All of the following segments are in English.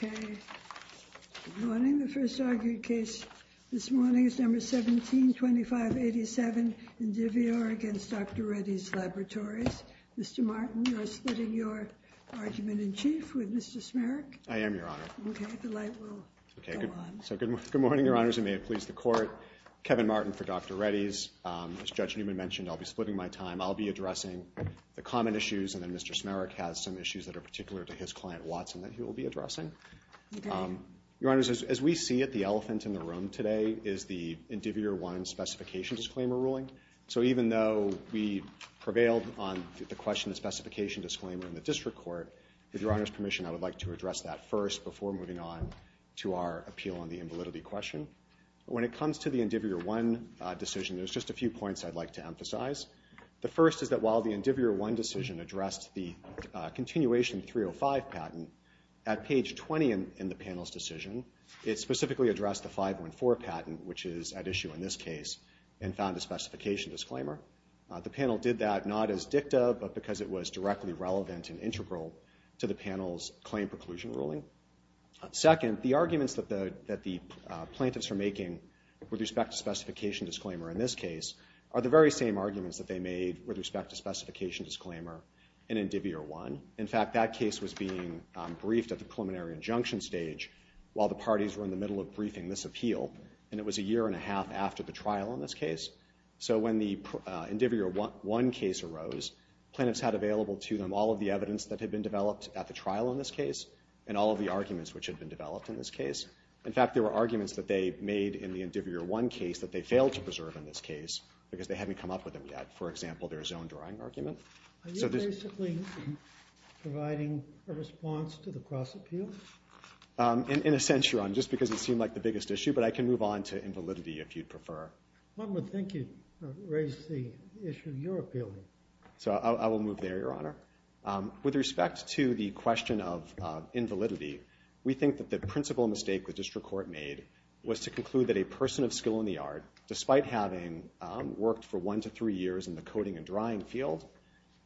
Good morning, the first argued case this morning is number 172587 in Divior against Dr. Reddy's Laboratories. Mr. Martin, you are splitting your argument in chief with Mr. Smerich. I am, Your Honor. Okay, the light will go on. So good morning, Your Honors, and may it please the Court. Kevin Martin for Dr. Reddy's, as Judge Newman mentioned, I'll be splitting my time. I'll be addressing the common issues, and then Mr. Smerich has some issues that are particular to his client, Watson, that he will be addressing. Your Honors, as we see it, the elephant in the room today is the Indivior 1 specification disclaimer ruling. So even though we prevailed on the question of specification disclaimer in the District Court, with Your Honor's permission, I would like to address that first before moving on to our appeal on the invalidity question. When it comes to the Indivior 1 decision, there's just a few points I'd like to emphasize. The first is that while the Indivior 1 decision addressed the continuation 305 patent, at page 20 in the panel's decision, it specifically addressed the 514 patent, which is at issue in this case, and found a specification disclaimer. The panel did that not as dicta, but because it was directly relevant and integral to the panel's claim preclusion ruling. Second, the arguments that the plaintiffs are making with respect to specification disclaimer in this case are the very same arguments that they made with respect to specification disclaimer in Indivior 1. In fact, that case was being briefed at the preliminary injunction stage while the parties were in the middle of briefing this appeal, and it was a year and a half after the trial in this case. So when the Indivior 1 case arose, plaintiffs had available to them all of the evidence that had been developed at the trial in this case, and all of the arguments which had been developed in this case. In fact, there were arguments that they made in the Indivior 1 case that they failed to in this case, because they hadn't come up with them yet. For example, their zone drawing argument. Are you basically providing a response to the cross-appeal? In a sense, Your Honor, just because it seemed like the biggest issue, but I can move on to invalidity if you'd prefer. One would think you'd raise the issue you're appealing. So I will move there, Your Honor. With respect to the question of invalidity, we think that the principal mistake the district court made was to conclude that a person of skill in the yard, despite having worked for one to three years in the coating and drying field,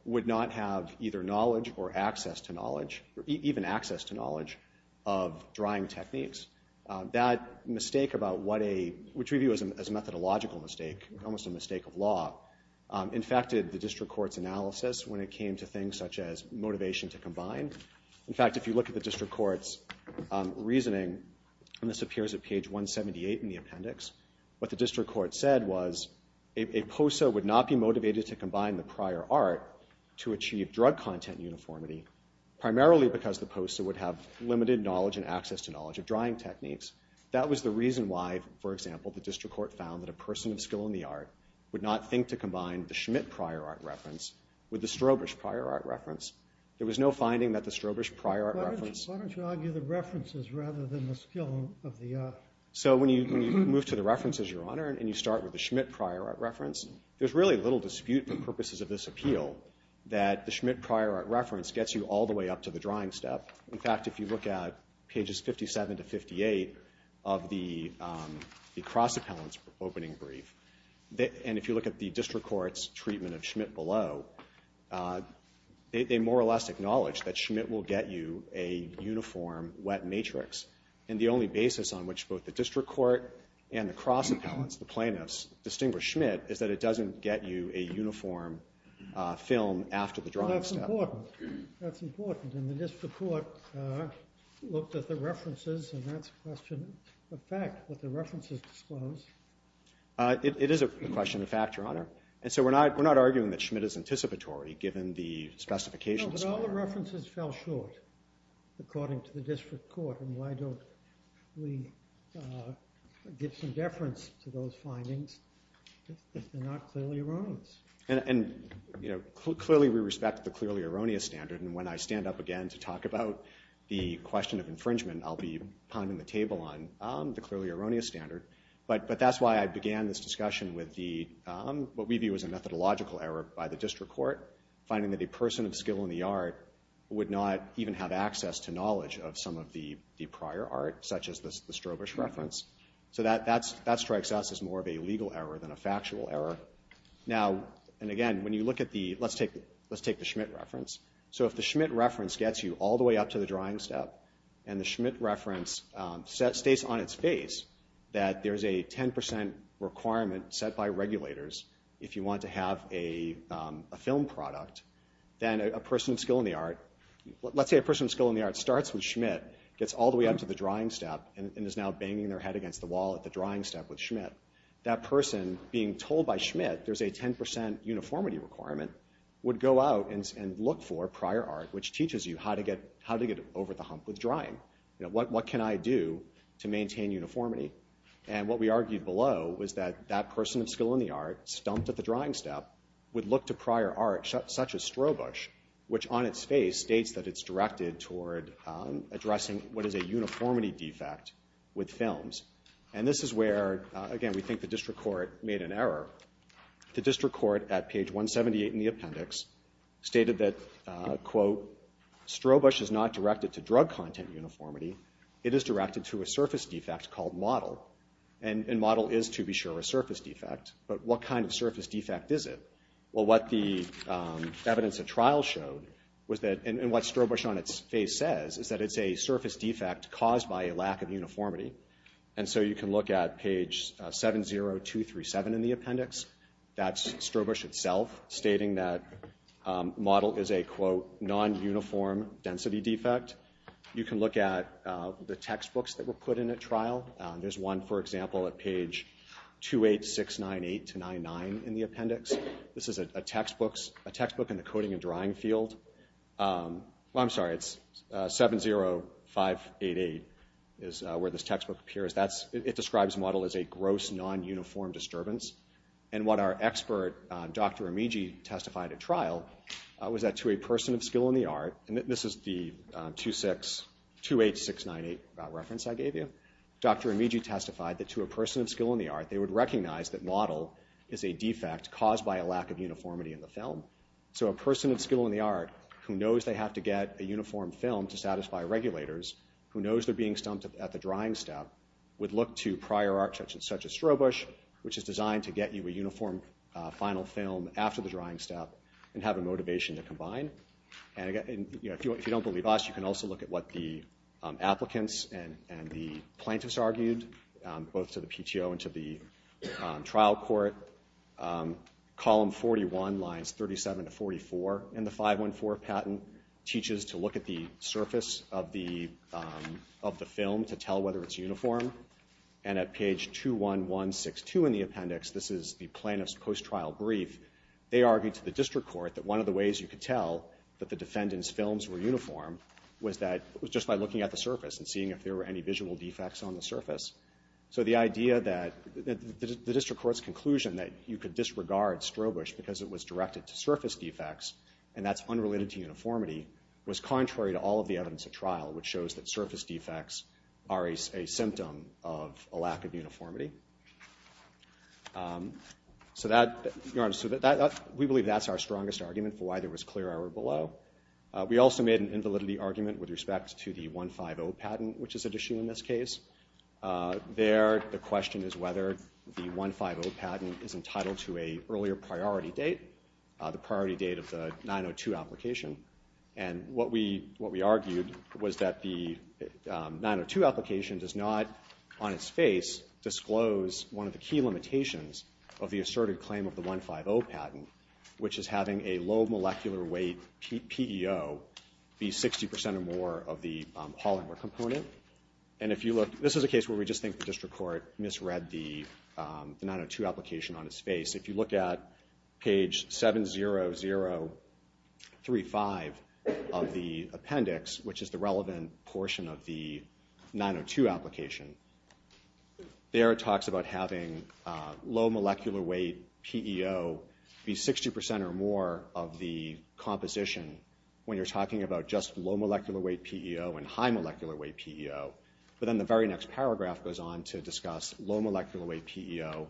would not have either knowledge or access to knowledge, or even access to knowledge, of drying techniques. That mistake, which we view as a methodological mistake, almost a mistake of law, infected the district court's analysis when it came to things such as motivation to combine. In fact, if you look at the district court's reasoning, and this appears at page 178 in the appendix, what the district court said was a POSA would not be motivated to combine the prior art to achieve drug content uniformity, primarily because the POSA would have limited knowledge and access to knowledge of drying techniques. That was the reason why, for example, the district court found that a person of skill in the art would not think to combine the Schmidt prior art reference with the Strobisch prior art reference. There was no finding that the Strobisch prior art reference... Why don't you argue the references rather than the skill of the... So when you move to the references, Your Honor, and you start with the Schmidt prior art reference, there's really little dispute for purposes of this appeal that the Schmidt prior art reference gets you all the way up to the drying step. In fact, if you look at pages 57 to 58 of the cross-appellant's opening brief, and if you look at the district court's treatment of Schmidt below, they more or less acknowledge that Schmidt will get you a uniform wet matrix, and the only basis on which both the district court and the cross-appellants, the plaintiffs, distinguish Schmidt is that it doesn't get you a uniform film after the drying step. That's important. That's important. And the district court looked at the references, and that's a question of fact, what the references disclose. It is a question of fact, Your Honor, and so we're not arguing that Schmidt is anticipatory given the specifications. No, but all the references fell short according to the district court, and why don't we give some deference to those findings if they're not clearly erroneous? And clearly we respect the clearly erroneous standard, and when I stand up again to talk about the question of infringement, I'll be pounding the table on the clearly erroneous standard, but that's why I began this discussion with what we view as a methodological error by the district court, finding that a person of skill in the art would not even have access to knowledge of some of the prior art, such as the Strobish reference. So that strikes us as more of a legal error than a factual error. Now, and again, when you look at the, let's take the Schmidt reference. So if the Schmidt reference gets you all the way up to the drying step, and the Schmidt reference states on its face that there's a 10% requirement set by regulators if you want to have a film product, then a person of skill in the art, let's say a person of skill in the art starts with Schmidt, gets all the way up to the drying step, and is now banging their head against the wall at the drying step with Schmidt, that person being told by Schmidt there's a 10% uniformity requirement would go out and look for prior art, which teaches you how to get over the hump with drying. What can I do to maintain uniformity? And what we argued below was that that person of skill in the art, stumped at the drying step, would look to prior art, such as Strobish, which on its face states that it's directed toward addressing what is a uniformity defect with films. And this is where, again, we think the district court made an error. The district court at page 178 in the appendix stated that, quote, Strobish is not directed to drug content uniformity, it is directed to a surface defect called model. And model is, to be sure, a surface defect. But what kind of surface defect is it? Well, what the evidence of trial showed was that, and what Strobish on its face says, is that it's a surface defect caused by a lack of uniformity. And so you can look at page 70237 in the appendix. That's Strobish itself stating that model is a, quote, non-uniform density defect. You can look at the textbooks that were put in at trial. There's one, for example, at page 28698-99 in the appendix. This is a textbook in the coding and drying field. Well, I'm sorry, it's 70588 is where this textbook appears. That's, it describes model as a gross, non-uniform disturbance. And what our expert, Dr. Amigi, testified at trial was that to a person of skill in the art, and this is the 26, 28698 reference I gave you. Dr. Amigi testified that to a person of skill in the art, they would recognize that model is a defect caused by a lack of uniformity in the film. So a person of skill in the art who knows they have to get a uniform film to satisfy regulators, who knows they're being stumped at the drying step, would look to prior architects such as Strobish, which is designed to get you a uniform final film after the drying step and have a motivation to combine. And again, you know, if you don't believe us, you can also look at what the applicants and the And the 514 patent teaches to look at the surface of the film to tell whether it's uniform. And at page 21162 in the appendix, this is the plaintiff's post-trial brief, they argued to the district court that one of the ways you could tell that the defendant's films were uniform was that, was just by looking at the surface and seeing if there were any visual defects on the surface. So the idea that, the district court's conclusion that you could disregard Strobish because it was directed to surface defects and that's unrelated to uniformity, was contrary to all of the evidence at trial, which shows that surface defects are a symptom of a lack of uniformity. So that, we believe that's our strongest argument for why there was clear error below. We also made an invalidity argument with respect to the 150 patent, which is an issue in this case. There, the question is whether the 150 patent is entitled to a earlier priority date, the priority date of the 902 application. And what we argued was that the 902 application does not, on its face, disclose one of the key limitations of the asserted claim of the 150 patent, which is having a low molecular weight PEO be 60% or more of the polymer component. And if you look, this is a case where we just think the district court misread the 902 application on its face. If you look at page 70035 of the appendix, which is the relevant portion of the 902 application, there it talks about having low molecular weight PEO be 60% or more of the composition. When you're talking about just low molecular weight PEO and high molecular weight PEO. But then the very next paragraph goes on to discuss low molecular weight PEO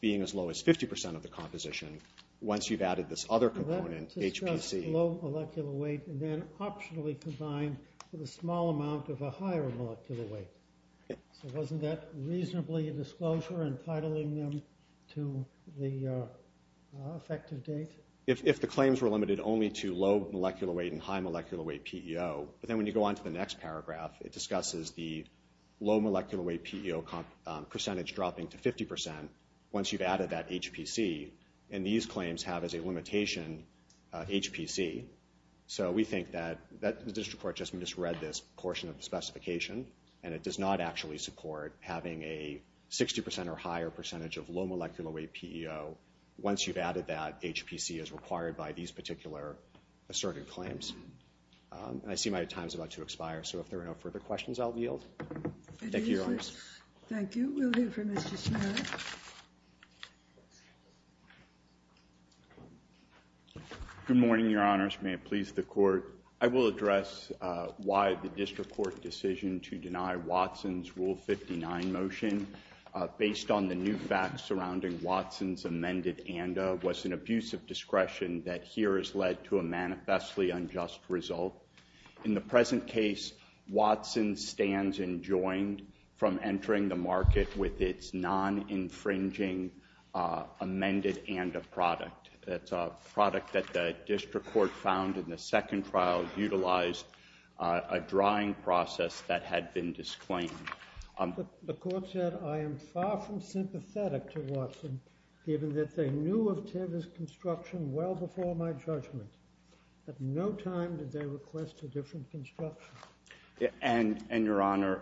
being as low as 50% of the composition. Once you've added this other component, HPC. Low molecular weight, and then optionally combined with a small amount of a higher molecular weight. So wasn't that reasonably a disclosure, entitling them to the effective date? If the claims were limited only to low molecular weight and high molecular weight PEO, but then when you go on to the next paragraph, it discusses the low molecular weight PEO percentage dropping to 50% once you've added that HPC, and these claims have as a limitation HPC. So we think that the district court just misread this portion of the specification, and it does not actually support having a 60% or higher percentage of low molecular weight PEO once you've added that HPC as required by these particular asserted claims. And I see my time's about to expire, so if there are no further questions, I'll yield. Thank you, Your Honors. Thank you. We'll hear from Mr. Smith. Good morning, Your Honors. May it please the court. I will address why the district court decision to deny Watson's Rule 59 motion based on the new facts surrounding Watson's amended ANDA was an abuse of discretion that here has led to a manifestly unjust result. In the present case, Watson stands enjoined from entering the market with its non-infringing amended ANDA product. That's a product that the district court found in the second trial utilized a drawing process that had been disclaimed. The court said, I am far from sympathetic to Watson, given that they knew of Tibb's construction well before my judgment. At no time did they request a different construction. And, Your Honor,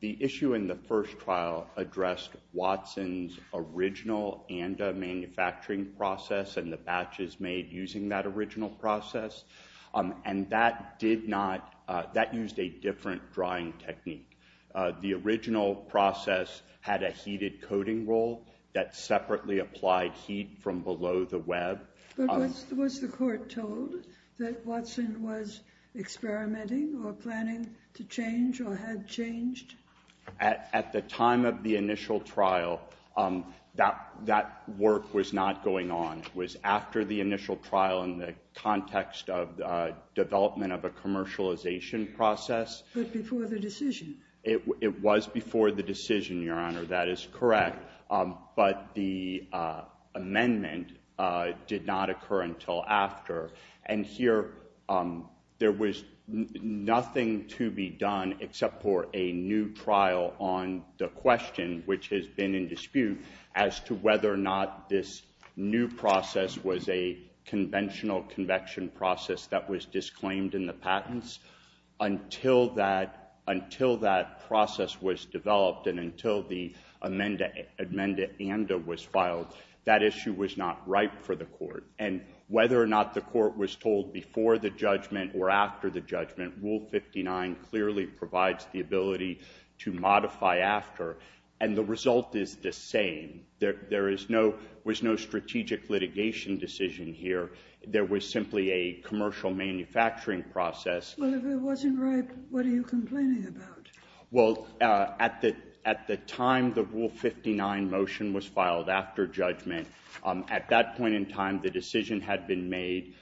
the issue in the first trial addressed Watson's original ANDA manufacturing process and the batches made using that original process. And that did not, that used a different drawing technique. The original process had a heated coating roll that separately applied heat from below the web. But was the court told that Watson was experimenting or planning to change or had changed? At the time of the initial trial, that work was not going on. It was after the initial trial in the context of the development of a commercialization process. But before the decision? It was before the decision, Your Honor, that is correct. But the amendment did not occur until after. And here, there was nothing to be done except for a new trial on the question, which has been in dispute, as to whether or not this new process was a conventional convection process that was disclaimed in the patents. Until that process was developed and until the amended ANDA was filed, that issue was not right for the court. And whether or not the court was told before the judgment or after the judgment, Rule 59 clearly provides the ability to modify after. And the result is the same. There was no strategic litigation decision here. There was simply a commercial manufacturing process. Well, if it wasn't right, what are you complaining about? Well, at the time the Rule 59 motion was filed after judgment, at that point in time, the decision had been made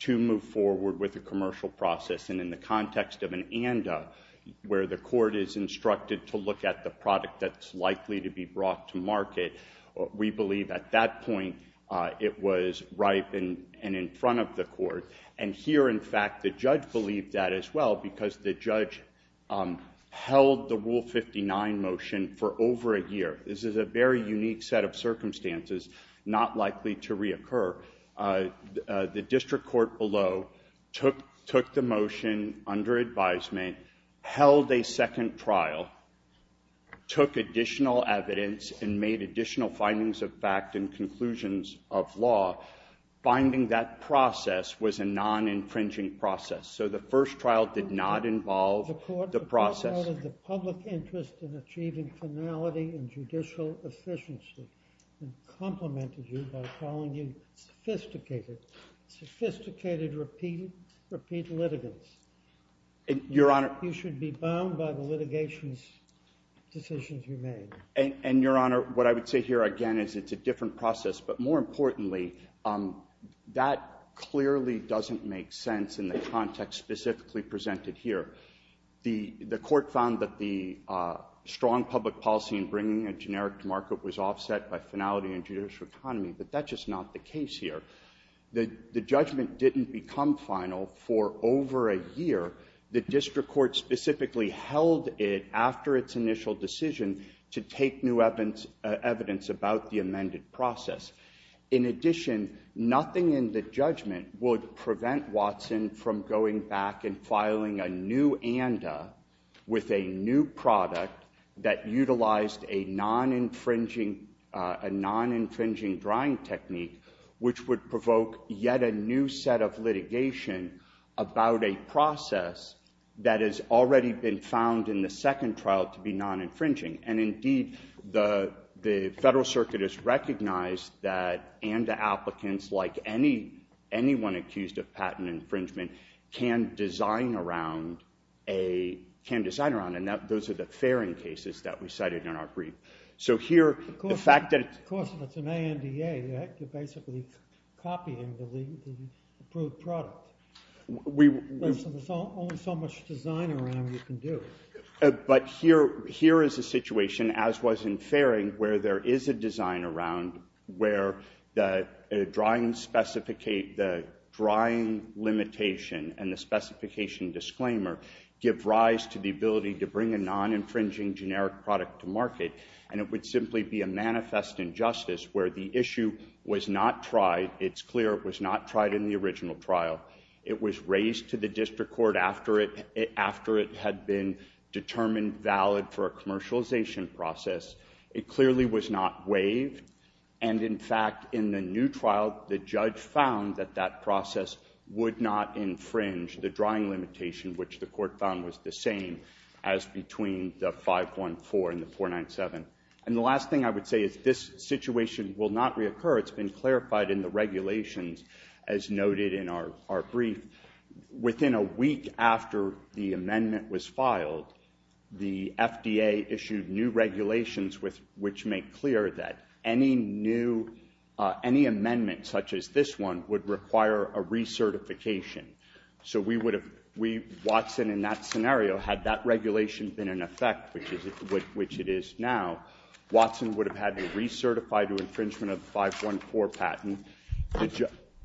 to move forward with the commercial process. And in the context of an ANDA, where the court is instructed to look at the product that's likely to be brought to market, we believe at that point it was ripe and in front of the court. And here, in fact, the judge believed that as well, because the judge held the Rule 59 motion for over a year. This is a very unique set of circumstances, not likely to reoccur. The district court below took the motion under advisement, held a second trial, took additional evidence, and made additional findings of fact and conclusions of law. Finding that process was a non-infringing process. So the first trial did not involve the process. The public interest in achieving finality and judicial efficiency. Complimented you by calling you sophisticated, sophisticated repeat litigants. Your Honor. You should be bound by the litigation decisions you made. And Your Honor, what I would say here again is it's a different process. But more importantly, that clearly doesn't make sense in the context specifically presented here. The court found that the strong public policy in bringing a generic to market was offset by finality and judicial economy. But that's just not the case here. The judgment didn't become final for over a year. The district court specifically held it after its initial decision to take new evidence about the amended process. In addition, nothing in the judgment would prevent Watson from going back and filing a new ANDA with a new product that utilized a non-infringing drying technique, which would provoke yet a new set of litigation about a process that has already been found in the second trial to be non-infringing. And indeed, the Federal Circuit has recognized that ANDA applicants, like anyone accused of patent infringement, can design around. And those are the fairing cases that we cited in our brief. So here, the fact that- Of course, it's an ANDA. You have to basically copy and delete the approved product. There's only so much design around you can do. But here is a situation, as was in fairing, where there is a design around where the drying limitation and the specification disclaimer give rise to the ability to bring a non-infringing generic product to market. And it would simply be a manifest injustice where the issue was not tried. It's clear it was not tried in the original trial. It was raised to the district court after it had been determined valid for a commercialization process. It clearly was not waived. And in fact, in the new trial, the judge found that that process would not infringe the drying limitation, which the court found was the same as between the 514 and the 497. And the last thing I would say is this situation will not reoccur. It's been clarified in the regulations, as noted in our brief. Within a week after the amendment was filed, the FDA issued new regulations which make clear that any amendment, such as this one, would require a recertification. So Watson, in that scenario, had that regulation been in effect, which it is now, Watson would have had to recertify to infringement of the 514 patent.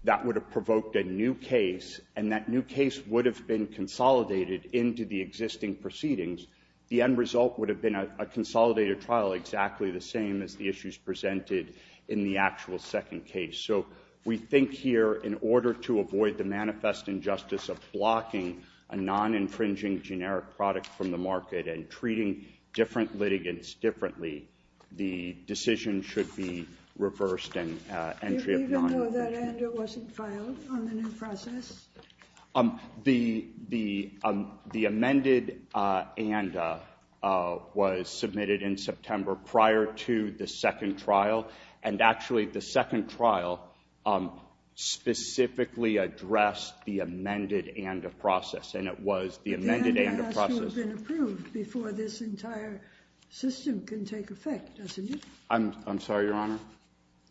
That would have provoked a new case. And that new case would have been consolidated into the existing proceedings. The end result would have been a consolidated trial exactly the same as the issues presented in the actual second case. So we think here, in order to avoid the manifest injustice of blocking a non-infringing generic product from the market and treating different litigants differently, the decision should be reversed and entry of non-infringing. Even though that ANDA wasn't filed on the new process? The amended ANDA was submitted in September prior to the second trial. And actually, the second trial specifically addressed the amended ANDA process. And it was the amended ANDA process. But the ANDA has to have been approved before this entire system can take effect, doesn't it? I'm sorry, Your Honor.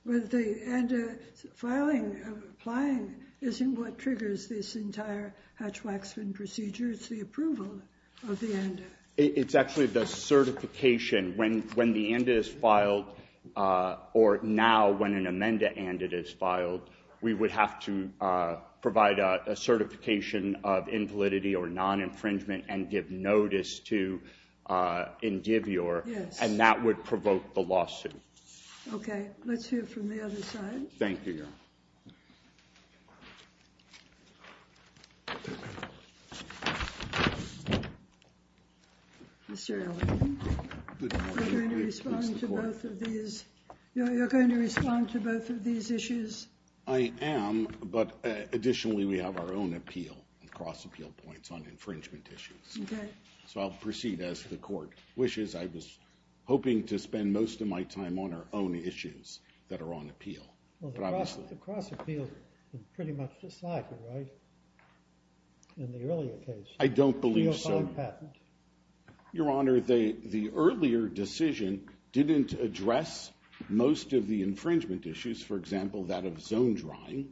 But the ANDA filing, applying, isn't what triggers this entire Hatch-Waxman procedure. It's the approval of the ANDA. It's actually the certification. When the ANDA is filed, or now, when an amended ANDA is filed, we would have to provide a certification of invalidity or non-infringement and give notice to Indivior. Yes. And that would provoke the lawsuit. Okay. Let's hear from the other side. Thank you, Your Honor. Mr. Ellington, you're going to respond to both of these issues? I am. But additionally, we have our own appeal and cross-appeal points on infringement issues. Okay. So I'll proceed as the Court wishes. I was hoping to spend most of my time on our own issues that are on appeal. Well, the cross-appeal is pretty much decided, right? In the earlier case. I don't believe so. The O'Connor patent. Your Honor, the earlier decision didn't address most of the infringement issues. For example, that of zone drawing.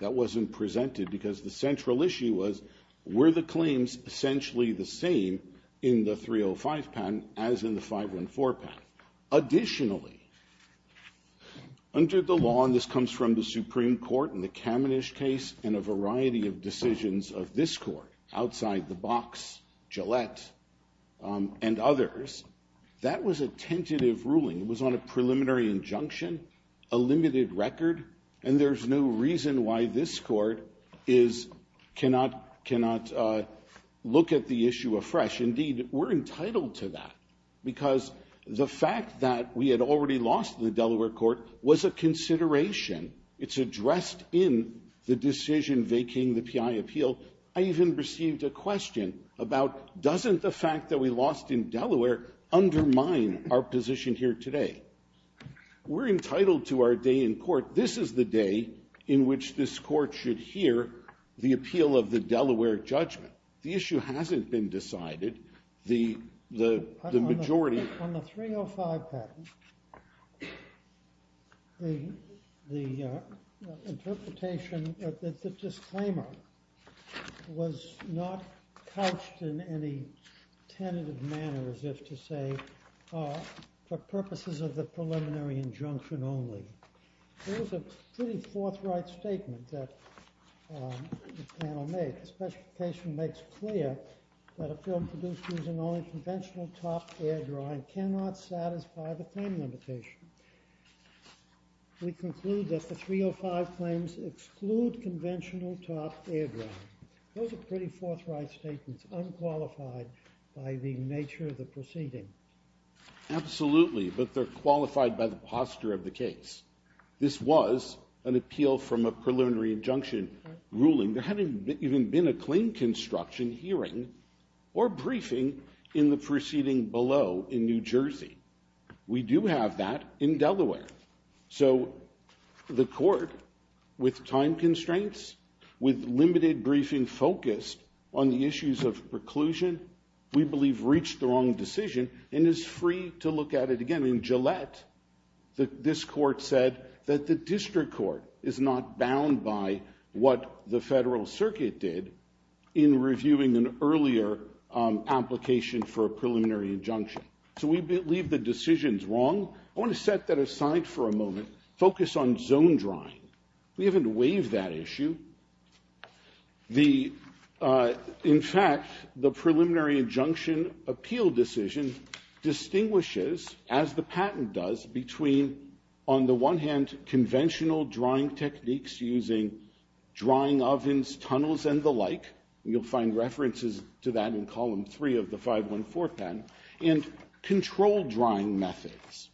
That wasn't presented because the central issue was, were the claims essentially the same in the 305 patent as in the 514 patent? Additionally, under the law, and this comes from the Supreme Court and the Kamenish case and a variety of decisions of this Court, outside the box, Gillette and others, that was a tentative ruling. It was on a preliminary injunction, a limited record. And there's no reason why this Court cannot look at the issue afresh. Indeed, we're entitled to that because the fact that we had already lost the Delaware Court was a consideration. It's addressed in the decision vacating the PI appeal. I even received a question about, doesn't the fact that we lost in Delaware undermine our position here today? We're entitled to our day in court. This is the day in which this Court should hear the appeal of the Delaware judgment. The issue hasn't been decided. The majority... On the 305 patent, the interpretation that the disclaimer was not couched in any tentative manner, as if to say, for purposes of the preliminary injunction only. There was a pretty forthright statement that the panel made. The specification makes clear that a film produced using only conventional top air drawing cannot satisfy the claim limitation. We conclude that the 305 claims exclude conventional top air drawing. Those are pretty forthright statements, unqualified by the nature of the proceeding. Absolutely, but they're qualified by the posture of the case. This was an appeal from a preliminary injunction ruling. There hadn't even been a claim construction hearing or briefing in the proceeding below in New Jersey. We do have that in Delaware. So the Court, with time constraints, with limited briefing focused on the issues of preclusion, we believe reached the wrong decision and is free to look at it again. In Gillette, this Court said that the District Court is not bound by what the Federal Circuit did in reviewing an earlier application for a preliminary injunction. So we believe the decision's wrong. I want to set that aside for a moment, focus on zone drawing. We haven't waived that issue. In fact, the preliminary injunction appeal decision distinguishes, as the patent does, between, on the one hand, conventional drawing techniques using drying ovens, tunnels, and the like. You'll find references to that in column three of the 514 patent. And control drying methods.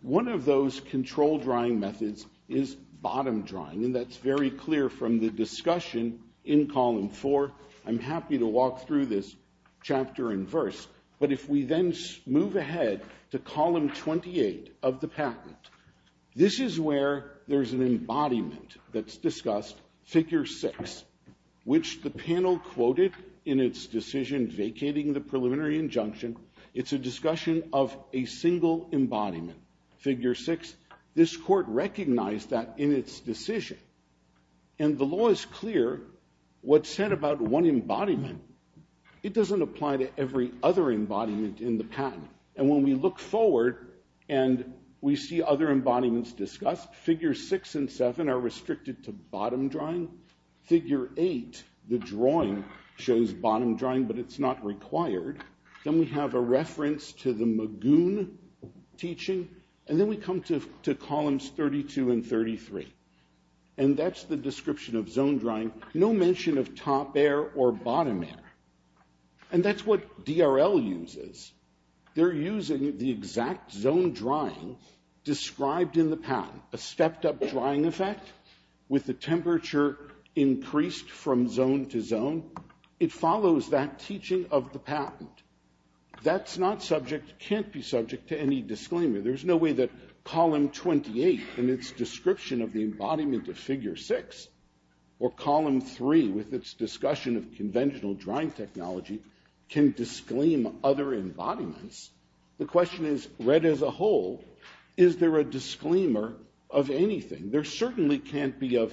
One of those control drying methods is bottom drying. And that's very clear from the discussion in column four. I'm happy to walk through this chapter in verse. But if we then move ahead to column 28 of the patent, this is where there's an embodiment that's discussed, figure six, which the panel quoted in its decision vacating the preliminary injunction. It's a discussion of a single embodiment, figure six. This Court recognized that in its decision. And the law is clear. What's said about one embodiment, it doesn't apply to every other embodiment in the patent. And when we look forward and we see other embodiments discussed, figure six and seven are restricted to bottom drying. Figure eight, the drawing shows bottom drying, but it's not required. Then we have a reference to the Magoon teaching. And then we come to columns 32 and 33. And that's the description of zone drying. No mention of top air or bottom air. And that's what DRL uses. They're using the exact zone drying described in the patent. A stepped up drying effect with the temperature increased from zone to zone. It follows that teaching of the patent. That's not subject, can't be subject to any disclaimer. There's no way that column 28 in its description of the embodiment of figure six or column three with its discussion of conventional drying technology can disclaim other embodiments. The question is, read as a whole, is there a disclaimer of anything? There certainly can't be a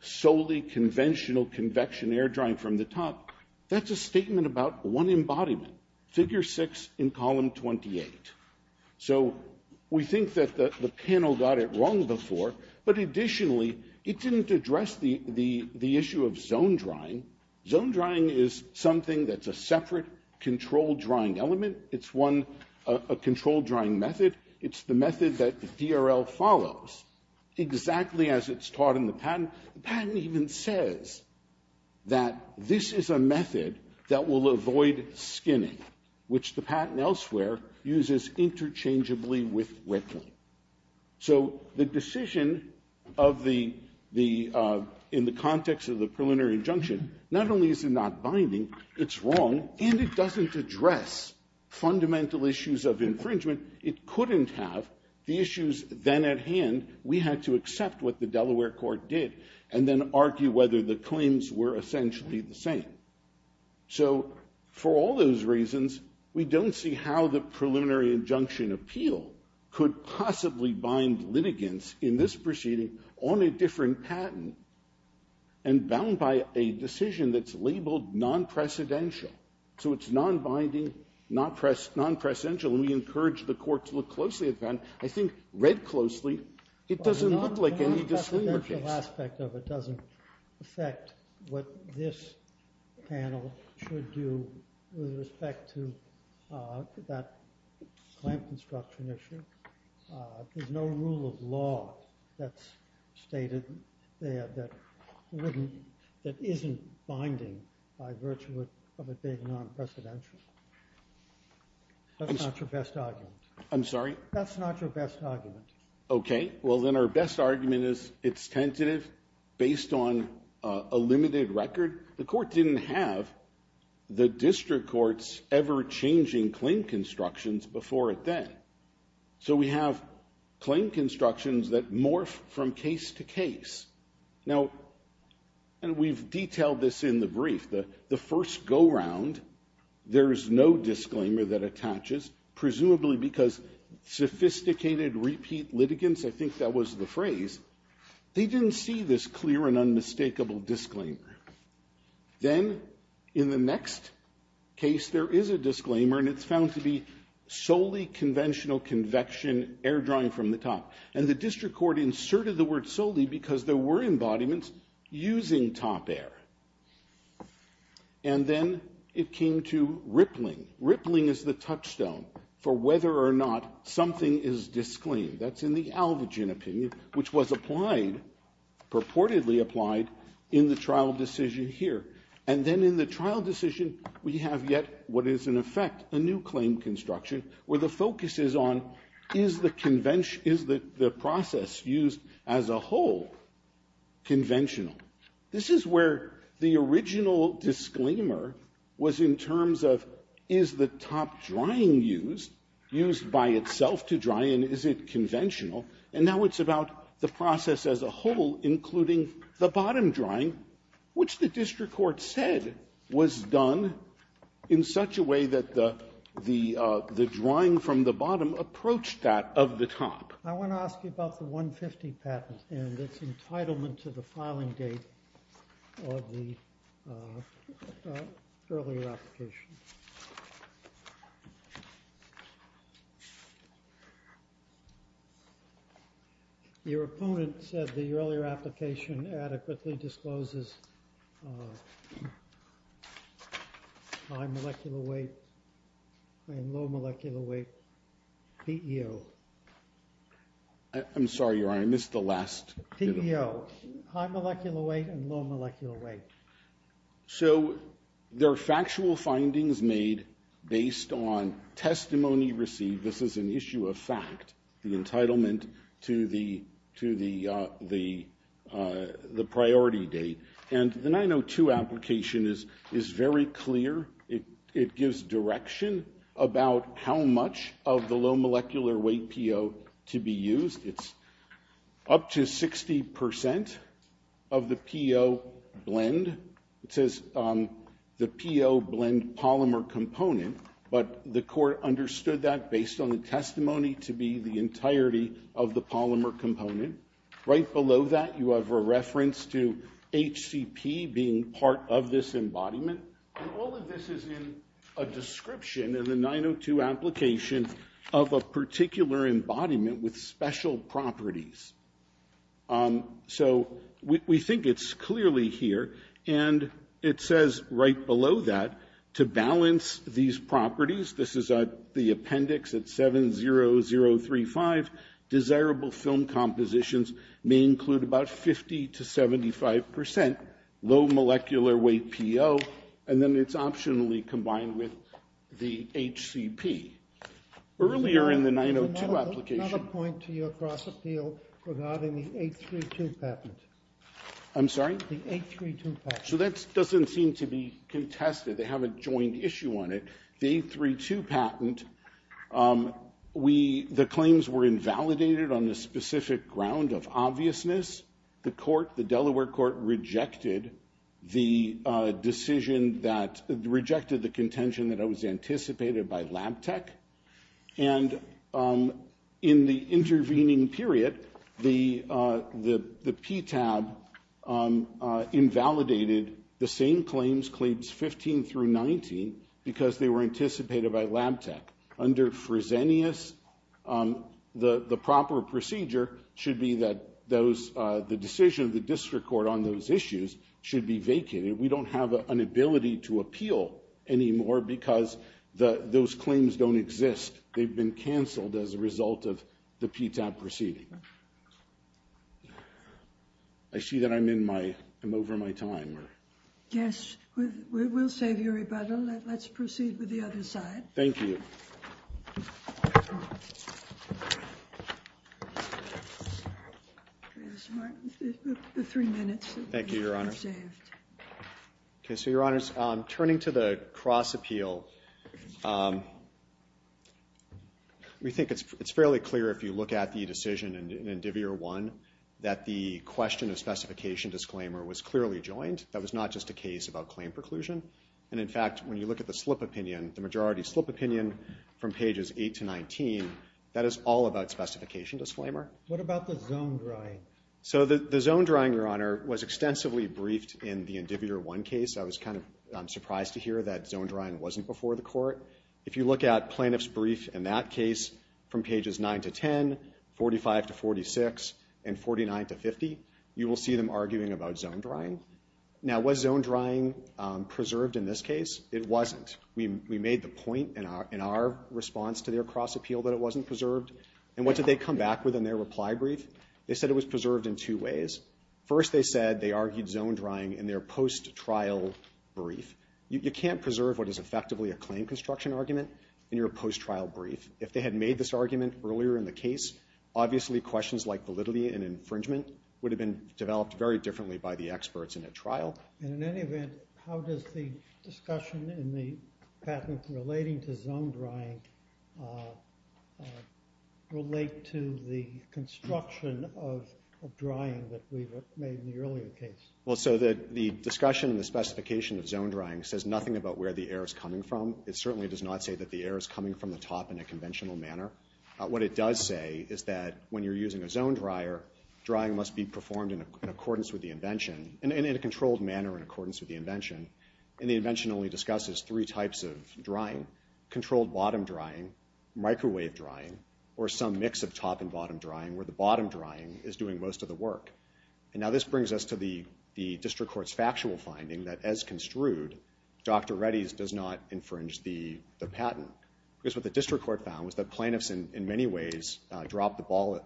solely conventional convection air drying from the top. That's a statement about one embodiment. Figure six in column 28. So we think that the panel got it wrong before. But additionally, it didn't address the issue of zone drying. Zone drying is something that's a separate controlled drying element. It's one controlled drying method. It's the method that the DRL follows exactly as it's taught in the patent. The patent even says that this is a method that will avoid skinning, which the patent elsewhere uses interchangeably with wetting. So the decision in the context of the preliminary injunction, not only is it not binding, it's wrong, and it doesn't address fundamental issues of infringement. It couldn't have the issues. Then at hand, we had to accept what the Delaware court did and then argue whether the claims were essentially the same. So for all those reasons, we don't see how the preliminary injunction appeal could possibly bind litigants in this proceeding on a different patent and bound by a decision that's labeled non-precedential. So it's non-binding, non-precedential, and we encourage the court to look closely at that. I think read closely, it doesn't look like any disclaimer case. The non-precedential aspect of it doesn't affect what this panel should do with respect to that clamp construction issue. There's no rule of law that's stated there that isn't binding by virtue of it being non-precedential. That's not your best argument. I'm sorry? That's not your best argument. Okay. Well, then our best argument is it's tentative based on a limited record. The court didn't have the district court's ever-changing claim constructions before it then. So we have claim constructions that morph from case to case. Now, and we've detailed this in the brief, the first go-round, there is no disclaimer that attaches, presumably because sophisticated repeat litigants, I think that was the phrase, they didn't see this clear and unmistakable disclaimer. Then in the next case, there is a disclaimer, and it's found to be solely conventional convection, air drying from the top. And the district court inserted the word solely because there were embodiments using top air. And then it came to rippling. Rippling is the touchstone for whether or not something is disclaimed. That's in the Alvagen opinion, which was applied, purportedly applied, in the trial decision here. And then in the trial decision, we have yet what is, in effect, a new claim construction, where the focus is on is the process used as a whole conventional? This is where the original disclaimer was in terms of is the top drying used, used by itself to dry, and is it conventional? And now it's about the process as a whole, including the bottom drying, which the district court said was done in such a way that the drying from the bottom approached that of the top. I want to ask you about the 150 patent and its entitlement to the filing date of the earlier application. Your opponent said the earlier application adequately discloses high molecular weight and low molecular weight, PEO. I'm sorry, Your Honor, I missed the last. PEO, high molecular weight and low molecular weight. So there are factual findings made based on testimony received. This is an issue of fact, the entitlement to the priority date. And the 902 application is very clear. It gives direction about how much of the low molecular weight PEO to be used. It's up to 60% of the PEO blend. It says the PEO blend polymer component, but the court understood that based on the testimony to be the entirety of the polymer component. Right below that, you have a reference to HCP being part of this embodiment. And all of this is in a description in the 902 application of a particular embodiment with special properties. So we think it's clearly here. And it says right below that, to balance these properties, this is the appendix at 70035, desirable film compositions may include about 50 to 75% low molecular weight PEO. And then it's optionally combined with the HCP. Earlier in the 902 application. Another point to your cross-appeal regarding the 832 patent. I'm sorry? The 832 patent. So that doesn't seem to be contested. They have a joint issue on it. The 832 patent, the claims were invalidated on the specific ground of obviousness. The court, the Delaware court, rejected the decision that, rejected the contention that it was anticipated by Lab Tech. And in the intervening period, the PTAB invalidated the same claims, claims 15 through 19, because they were anticipated by Lab Tech. Under Fresenius, the proper procedure should be that those, the decision of the district court on those issues should be vacated. We don't have an ability to appeal anymore because those claims don't exist. They've been canceled as a result of the PTAB proceeding. I see that I'm in my, I'm over my time. Yes, we'll save your rebuttal. Let's proceed with the other side. The three minutes. Thank you, your honor. Okay, so your honors, turning to the cross appeal, we think it's fairly clear if you look at the decision in Indivier 1, that the question of specification disclaimer was clearly joined. That was not just a case about claim preclusion. And in fact, when you look at the slip opinion, the majority slip opinion from pages 8 to 19, that is all about specification disclaimer. What about the zone drawing? So the zone drawing, your honor, was extensively briefed in the Indivier 1 case. I was kind of surprised to hear that zone drawing wasn't before the court. If you look at plaintiff's brief in that case, from pages 9 to 10, 45 to 46, and 49 to 50, you will see them arguing about zone drawing. Now, was zone drawing preserved in this case? It wasn't. We made the point in our response to their cross appeal that it wasn't preserved. And what did they come back with in their reply brief? They said it was preserved in two ways. First, they said they argued zone drying in their post-trial brief. You can't preserve what is effectively a claim construction argument in your post-trial brief. If they had made this argument earlier in the case, obviously questions like validity and infringement would have been developed very differently by the experts in a trial. And in any event, how does the discussion in the patent relating to zone drying relate to the construction of drying that we made in the earlier case? Well, so the discussion, the specification of zone drying says nothing about where the air is coming from. It certainly does not say that the air is coming from the top in a conventional manner. What it does say is that when you're using a zone dryer, drying must be performed in accordance with the invention, and in a controlled manner in accordance with the invention. And the invention only discusses three types of drying. Controlled bottom drying, microwave drying, or some mix of top and bottom drying, where the bottom drying is doing most of the work. And now this brings us to the district court's factual finding that as construed, Dr. Reddy's does not infringe the patent. Because what the district court found was that plaintiffs in many ways dropped the ball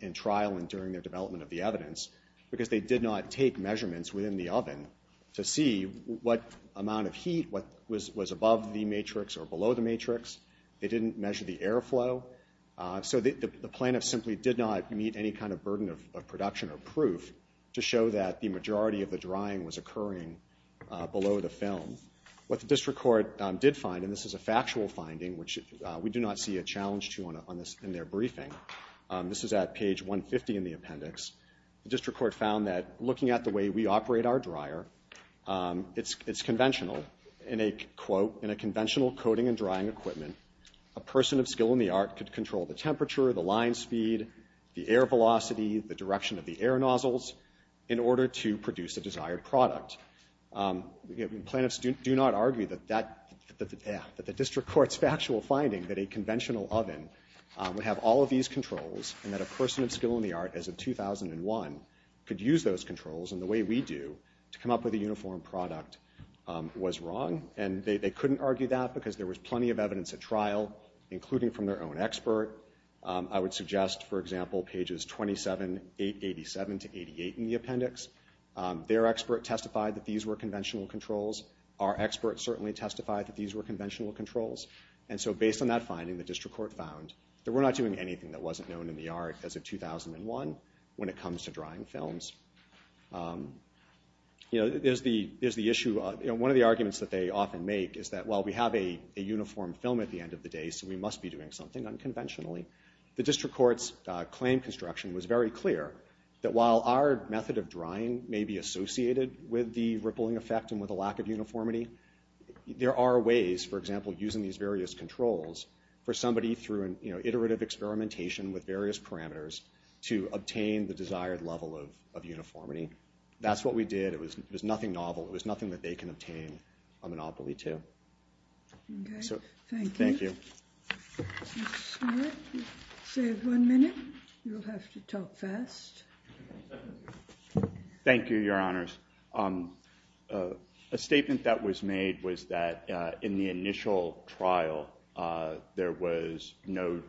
in trial and during their development of the evidence because they did not take measurements within the oven to see what amount of heat was above the matrix or below the matrix. They didn't measure the airflow. So the plaintiff simply did not meet any kind of burden of production or proof to show that the majority of the drying was occurring below the film. What the district court did find, and this is a factual finding, which we do not see a challenge to on this in their briefing. This is at page 150 in the appendix. The district court found that looking at the way we operate our dryer, it's conventional. In a quote, in a conventional coating and drying equipment, a person of skill in the art could control the temperature, the line speed, the air velocity, the direction of the air nozzles in order to produce a desired product. Plaintiffs do not argue that the district court's factual finding that a conventional oven would have all of these controls and that a person of skill in the art as of 2001 could use those controls in the way we do to come up with a uniform product was wrong. And they couldn't argue that because there was plenty of evidence at trial, including from their own expert. I would suggest, for example, pages 27, 887 to 88 in the appendix. Their expert testified that these were conventional controls. Our experts certainly testified that these were conventional controls. And so based on that finding, the district court found that we're not doing anything that wasn't known in the art as of 2001 when it comes to drying films. You know, there's the issue. One of the arguments that they often make is that, well, we have a uniform film at the end of the day, so we must be doing something unconventionally. The district court's claim construction was very clear that while our method of drying may be associated with the rippling effect and with a lack of uniformity, there are ways, for example, using these various controls for somebody through an iterative experimentation with various parameters to obtain the desired level of uniformity. That's what we did. It was nothing novel. It was nothing that they can obtain a monopoly to. OK. Thank you. Thank you. Save one minute. You'll have to talk fast. Thank you, Your Honors. A statement that was made was that in the initial trial, there was no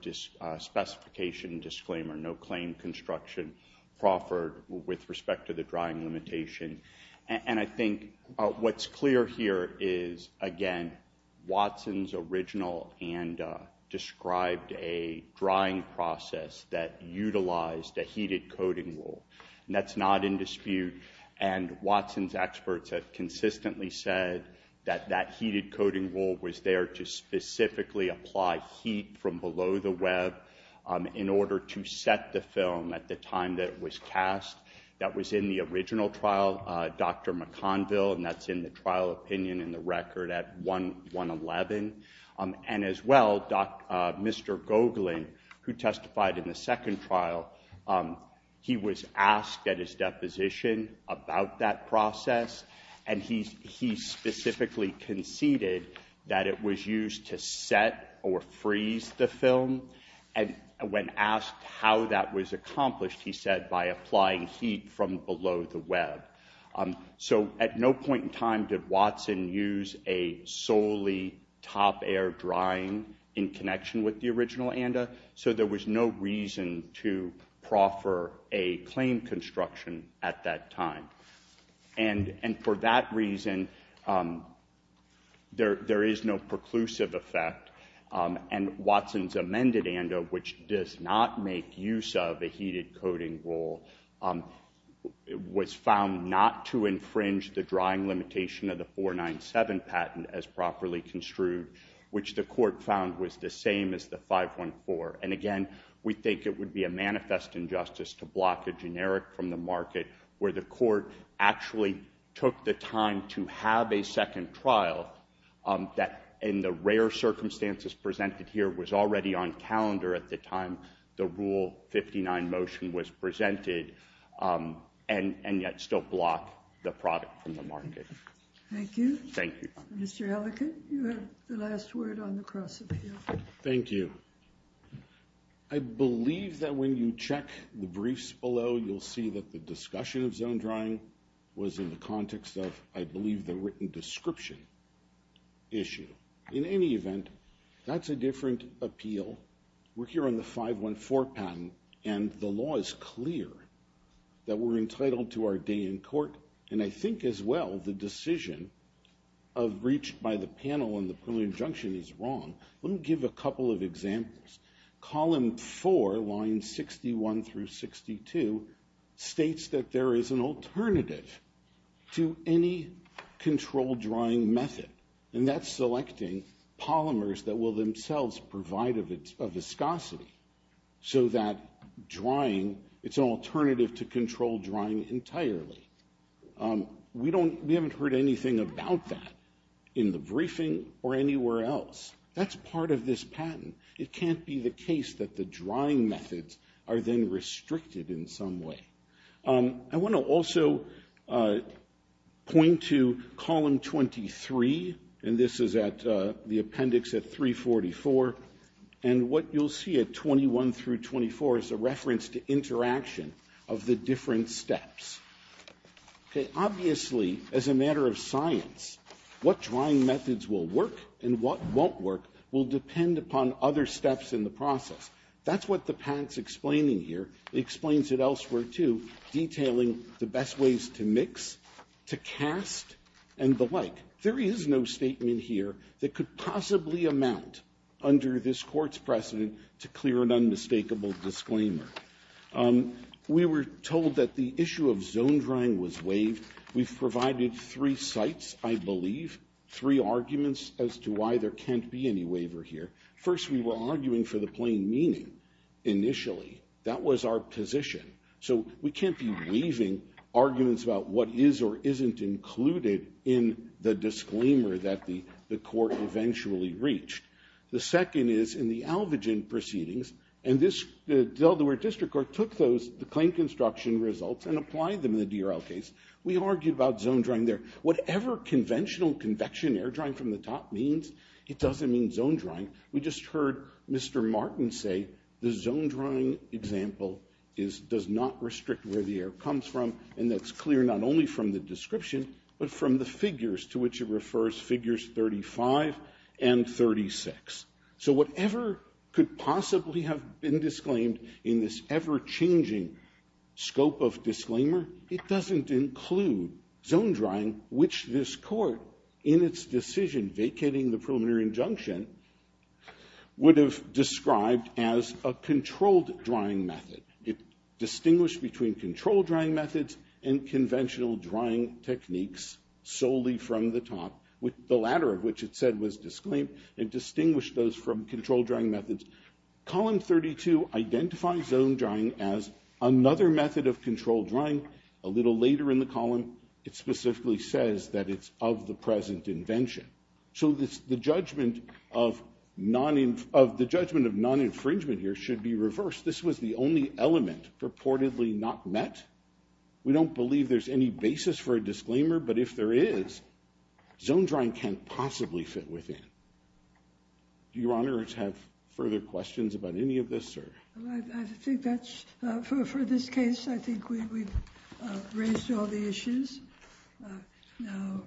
specification disclaimer, no claim construction proffered with respect to the drying limitation. And I think what's clear here is, again, Watson's original and described a drying process that utilized a heated coating rule. And that's not in dispute. And Watson's experts have consistently said that that heated coating rule was there to specifically apply heat from below the web in order to set the film at the time that it was cast. That was in the original trial, Dr. McConville. And that's in the trial opinion in the record at 1-111. And as well, Mr. Gogelin, who testified in the second trial, he was asked at his deposition about that process. And he specifically conceded that it was used to set or freeze the film. And when asked how that was accomplished, he said by applying heat from below the web. So at no point in time did Watson use a solely top air drying in connection with the original ANDA. So there was no reason to proffer a claim construction at that time. And for that reason, there is no preclusive effect. And Watson's amended ANDA, which does not make use of a heated coating rule, was found not to infringe the drying limitation of the 497 patent as properly construed, which the court found was the same as the 514. And again, we think it would be a manifest injustice to block a generic from the market where the court actually took the time to have a second trial that, in the rare circumstances presented here, was already on calendar at the time the Rule 59 motion was presented and yet still block the product from the market. Thank you. Thank you. Mr. Ellicott, you have the last word on the cross-appeal. Thank you. I believe that when you check the briefs below, you'll see that the discussion of zone drying was in the context of, I believe, the written description issue. In any event, that's a different appeal. We're here on the 514 patent, and the law is clear that we're entitled to our day in court. And I think, as well, the decision of breach by the panel in the preliminary injunction is wrong. Let me give a couple of examples. Column 4, lines 61 through 62, states that there is an alternative to any controlled drying method, and that's selecting polymers that will themselves provide a viscosity so that drying, it's an alternative to controlled drying entirely. We haven't heard anything about that in the briefing or anywhere else. That's part of this patent. It can't be the case that the drying methods are then restricted in some way. I want to also point to column 23, and this is at the appendix at 344. And what you'll see at 21 through 24 is a reference to interaction of the different steps. What drying methods will work and what won't work will depend upon other steps in the process. That's what the patent's explaining here. It explains it elsewhere, too, detailing the best ways to mix, to cast, and the like. There is no statement here that could possibly amount under this Court's precedent to clear an unmistakable disclaimer. We were told that the issue of zone drying was waived. We've provided three sites, I believe, three arguments as to why there can't be any waiver here. First, we were arguing for the plain meaning initially. That was our position. So we can't be waiving arguments about what is or isn't included in the disclaimer that the Court eventually reached. The second is in the Alvagen proceedings, and the Delaware District Court took those claim construction results and applied them in the DRL case. We argued about zone drying there. Whatever conventional convection air drying from the top means, it doesn't mean zone drying. We just heard Mr. Martin say the zone drying example does not restrict where the air comes from, and that's clear not only from the description, but from the figures to which it refers, figures 35 and 36. So whatever could possibly have been disclaimed in this ever-changing scope of disclaimer, it doesn't include zone drying, which this Court, in its decision vacating the preliminary injunction, would have described as a controlled drying method. It distinguished between controlled drying methods and conventional drying techniques solely from the top, the latter of which it said was disclaimed. It distinguished those from controlled drying methods. Column 32 identifies zone drying as another method of controlled drying, a little later in the column, it specifically says that it's of the present invention. So the judgment of non-infringement here should be reversed. This was the only element purportedly not met. We don't believe there's any basis for a disclaimer, but if there is, zone drying can't possibly fit within. Do Your Honor have further questions about any of this? I think that's for this case. I think we've raised all the issues now.